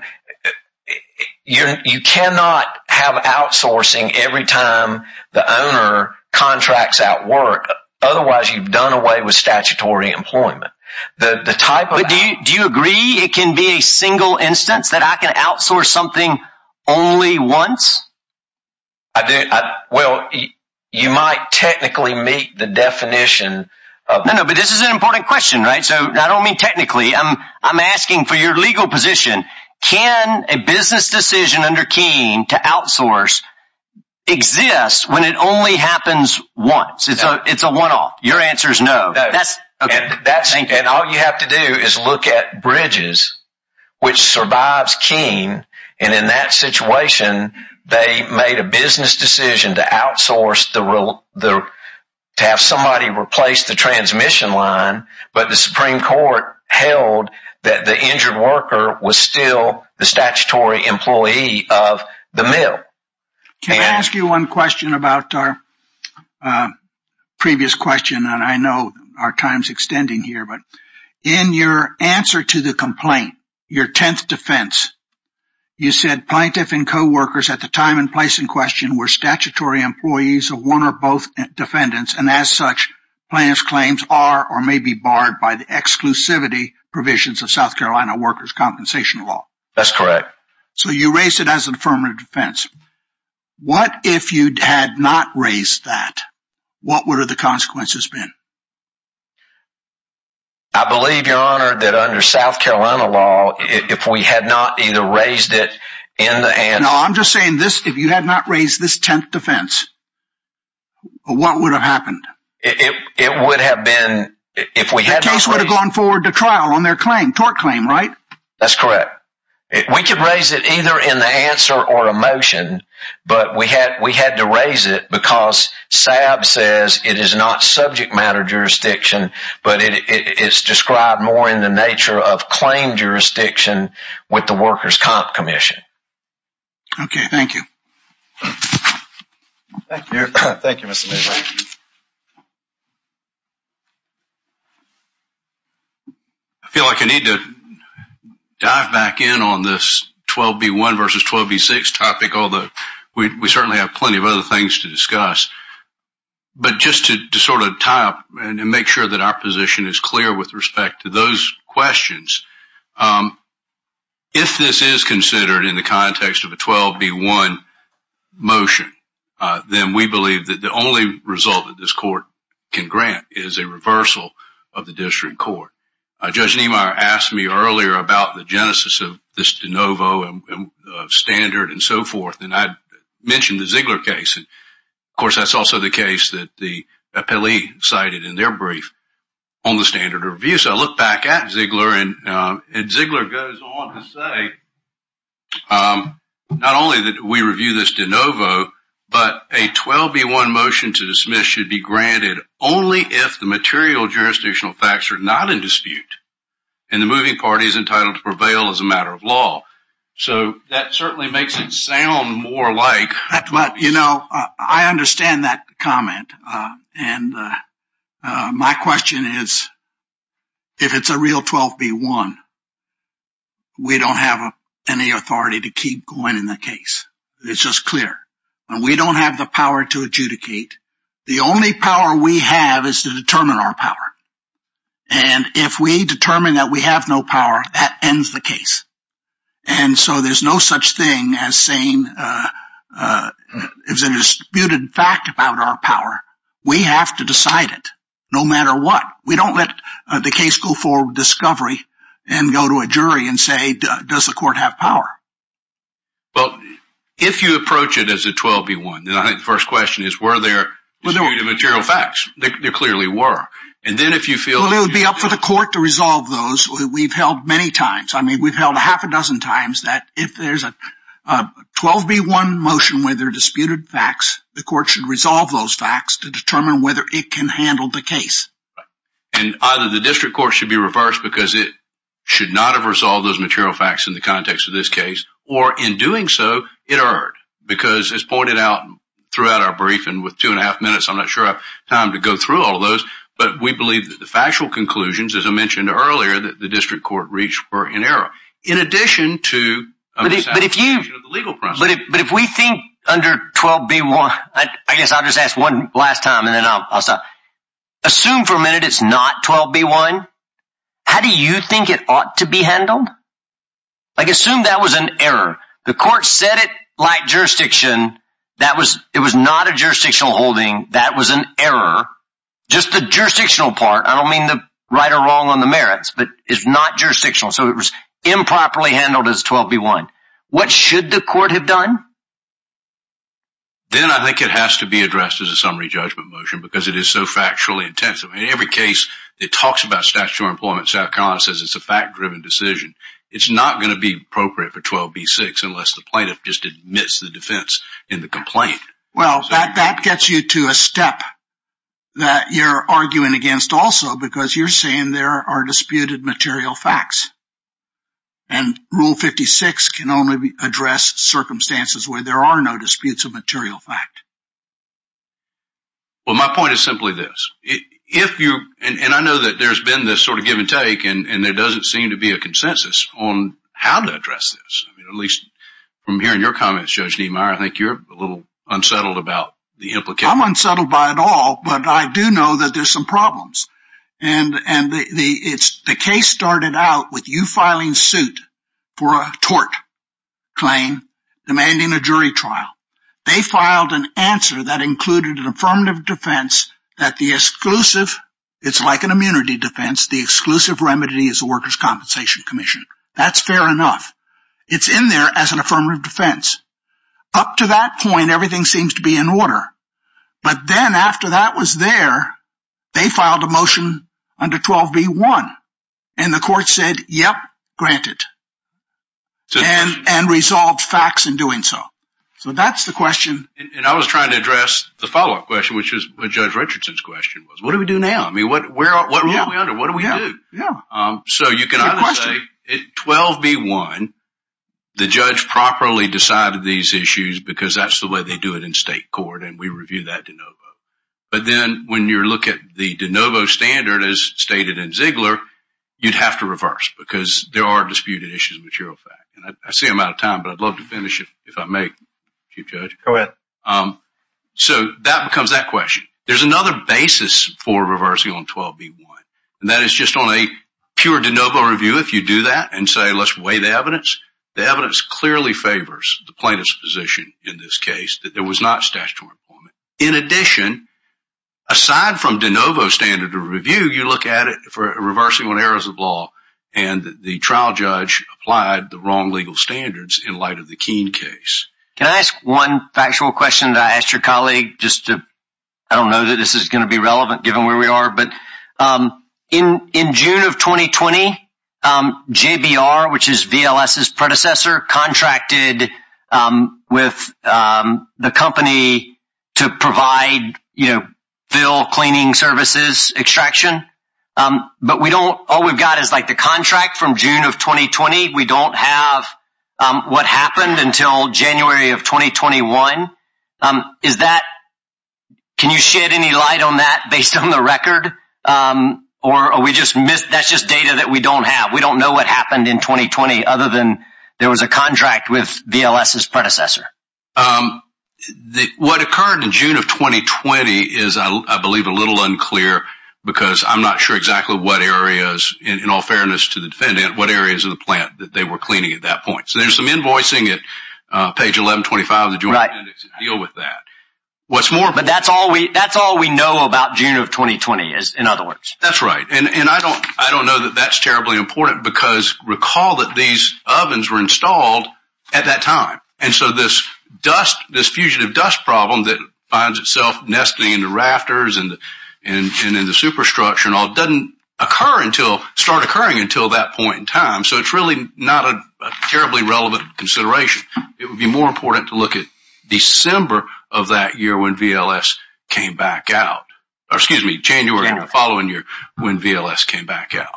you cannot have outsourcing every time the owner contracts out work. Otherwise, you've done away with statutory employment. The type of... But do you agree it can be a single instance that I can outsource something only once? Well, you might technically meet the definition of... No, no, but this is an important question, right? So I don't mean technically, I'm asking for your legal position. Can a business decision under Keene to outsource exist when it only happens once? It's a one-off. Your answer is no. Okay. And all you have to do is look at Bridges, which survives Keene. And in that situation, they made a business decision to outsource, to have somebody replace the transmission line. But the Supreme Court held that the injured worker was still the statutory employee of the mill. Can I ask you one question about our previous question? I know our time's extending here, but in your answer to the complaint, your 10th defense, you said plaintiff and co-workers at the time and place in question were statutory employees of one or both defendants, and as such, plaintiff's claims are or may be barred by the exclusivity provisions of South Carolina workers' compensation law. That's correct. So you raised it as an affirmative defense. What if you had not raised that? What would have the consequences been? I believe, Your Honor, that under South Carolina law, if we had not either raised it in the... No, I'm just saying this. If you had not raised this 10th defense, what would have happened? It would have been... The case would have gone forward to trial on their claim, tort claim, right? That's correct. We could raise it either in the answer or a motion, but we had to raise it because Saab says it is not subject matter jurisdiction, but it's described more in the nature of claim jurisdiction with the Workers' Comp Commission. Okay, thank you. Thank you. Thank you, Mr. Lieberman. I feel like I need to dive back in on this 12B1 versus 12B6 topic, although we certainly have plenty of other things to discuss, but just to sort of tie up and make sure that our position is clear with respect to those questions. If this is considered in the context of a 12B1 motion, then we believe that the only result that this court can grant is a reversal of the district court. Judge Niemeyer asked me earlier about the genesis of this de novo standard and so forth, and I mentioned the Ziegler case. Of course, that's also the case that the appellee cited in their brief on the standard of review, so I look back at Ziegler and Ziegler goes on to say, not only that we review this de novo, but a 12B1 motion to dismiss should be granted only if the material jurisdictional facts are not in dispute and the moving party is entitled to prevail as a matter of law. So that certainly makes it sound more like... You know, I understand that comment, and my question is, if it's a real 12B1, we don't have any authority to keep going in the case. It's just clear. And we don't have the power to adjudicate. The only power we have is to determine our power. And if we determine that we have no power, that ends the case. And so there's no such thing as saying... If there's a disputed fact about our power, we have to decide it, no matter what. We don't let the case go forward with discovery and go to a jury and say, does the court have power? Well, if you approach it as a 12B1, then I think the first question is, were there disputed material facts? There clearly were. And then if you feel... Well, it would be up for the court to resolve those. We've held many times. I mean, we've held a half a dozen times that if there's a 12B1 motion where there are disputed facts, the court should resolve those facts to determine whether it can handle the case. And either the district court should be reversed because it should not have resolved those material facts in the context of this case, or in doing so, it erred. Because as pointed out throughout our briefing with two and a half minutes, I'm not sure I have time to go through all of those. But we believe that the factual conclusions, as I mentioned earlier, that the district court reached were in error. In addition to the legal process. But if we think under 12B1, I guess I'll just ask one last time and then I'll stop. Assume for a minute it's not 12B1. How do you think it ought to be handled? Like, assume that was an error. The court said it lacked jurisdiction. It was not a jurisdictional holding. That was an error. Just the jurisdictional part. I don't mean the right or wrong on the merits, but it's not jurisdictional. So it was improperly handled as 12B1. What should the court have done? Then I think it has to be addressed as a summary judgment motion. Because it is so factually intensive. In every case that talks about statutory employment, South Carolina says it's a fact-driven decision. It's not going to be appropriate for 12B6 unless the plaintiff just admits the defense in the complaint. Well, that gets you to a step that you're arguing against also. Because you're saying there are disputed material facts. And Rule 56 can only address circumstances where there are no disputes of material fact. Well, my point is simply this. And I know that there's been this sort of give and take. And there doesn't seem to be a consensus on how to address this. I mean, at least from hearing your comments, Judge Niemeyer, I think you're a little unsettled about the implication. I'm unsettled by it all. But I do know that there's some problems. And the case started out with you filing suit for a tort claim demanding a jury trial. They filed an answer that included an affirmative defense that the exclusive, it's like an immunity defense, the exclusive remedy is the Workers' Compensation Commission. That's fair enough. It's in there as an affirmative defense. Up to that point, everything seems to be in order. But then after that was there, they filed a motion under 12B1. And the court said, yep, grant it. And resolved facts in doing so. So that's the question. And I was trying to address the follow-up question, which is what Judge Richardson's question was. What do we do now? I mean, what are we under? What do we do? So you can either say 12B1, the judge properly decided these issues because that's the way they do it in state court. And we review that de novo. But then when you look at the de novo standard, as stated in Ziegler, you'd have to reverse because there are disputed issues with juror fact. I see I'm out of time, but I'd love to finish if I may, Chief Judge. So that becomes that question. There's another basis for reversing on 12B1. And that is just on a pure de novo review, if you do that and say, let's weigh the evidence. The evidence clearly favors the plaintiff's position in this case that there was not statutory employment. In addition, aside from de novo standard of review, you look at it for reversing on errors of law and the trial judge applied the wrong legal standards in light of the Keene case. Can I ask one factual question to ask your colleague just to, I don't know that this is going to be relevant given where we are, but in June of 2020, JBR, which is VLS's predecessor, contracted with the company to provide, you know, fill cleaning services extraction. But we don't, all we've got is like the contract from June of 2020. We don't have what happened until January of 2021. Is that, can you shed any light on that based on the record or are we just, that's just data that we don't have. We don't know what happened in 2020 other than there was a contract with VLS's predecessor. Um, the, what occurred in June of 2020 is I believe a little unclear because I'm not sure exactly what areas in all fairness to the defendant, what areas of the plant that they were cleaning at that point. So there's some invoicing at page 1125 of the joint index to deal with that. What's more, but that's all we, that's all we know about June of 2020 is in other words. That's right. And I don't, I don't know that that's terribly important because recall that these ovens were installed at that time. And so this dust, this fugitive dust problem that finds itself nesting in the rafters and in the superstructure and all doesn't occur until, start occurring until that point in time. So it's really not a terribly relevant consideration. It would be more important to look at December of that year when VLS came back out, or excuse me, January of the following year when VLS came back out.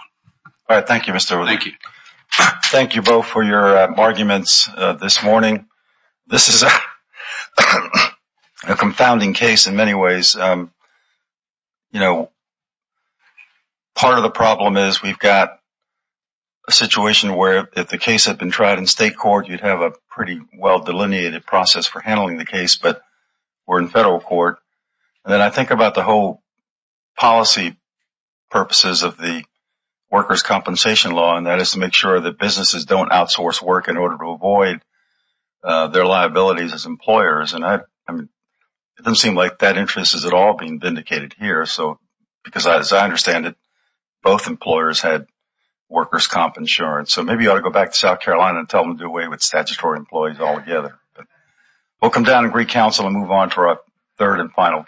All right. Thank you, Mr. O'Leary. Thank you. Thank you both for your arguments this morning. This is a confounding case in many ways. You know, part of the problem is we've got a situation where if the case had been tried in state court, you'd have a pretty well delineated process for handling the case, but we're in federal court. And then I think about the whole policy purposes of the workers' compensation law, and that is to make sure that businesses don't outsource work in order to avoid their liabilities as employers. And it doesn't seem like that interest is at all being vindicated here. So, because as I understand it, both employers had workers' comp insurance. So maybe you ought to go back to South Carolina and tell them to do away with statutory employees altogether. We'll come down and recounsel and move on to our third and final case.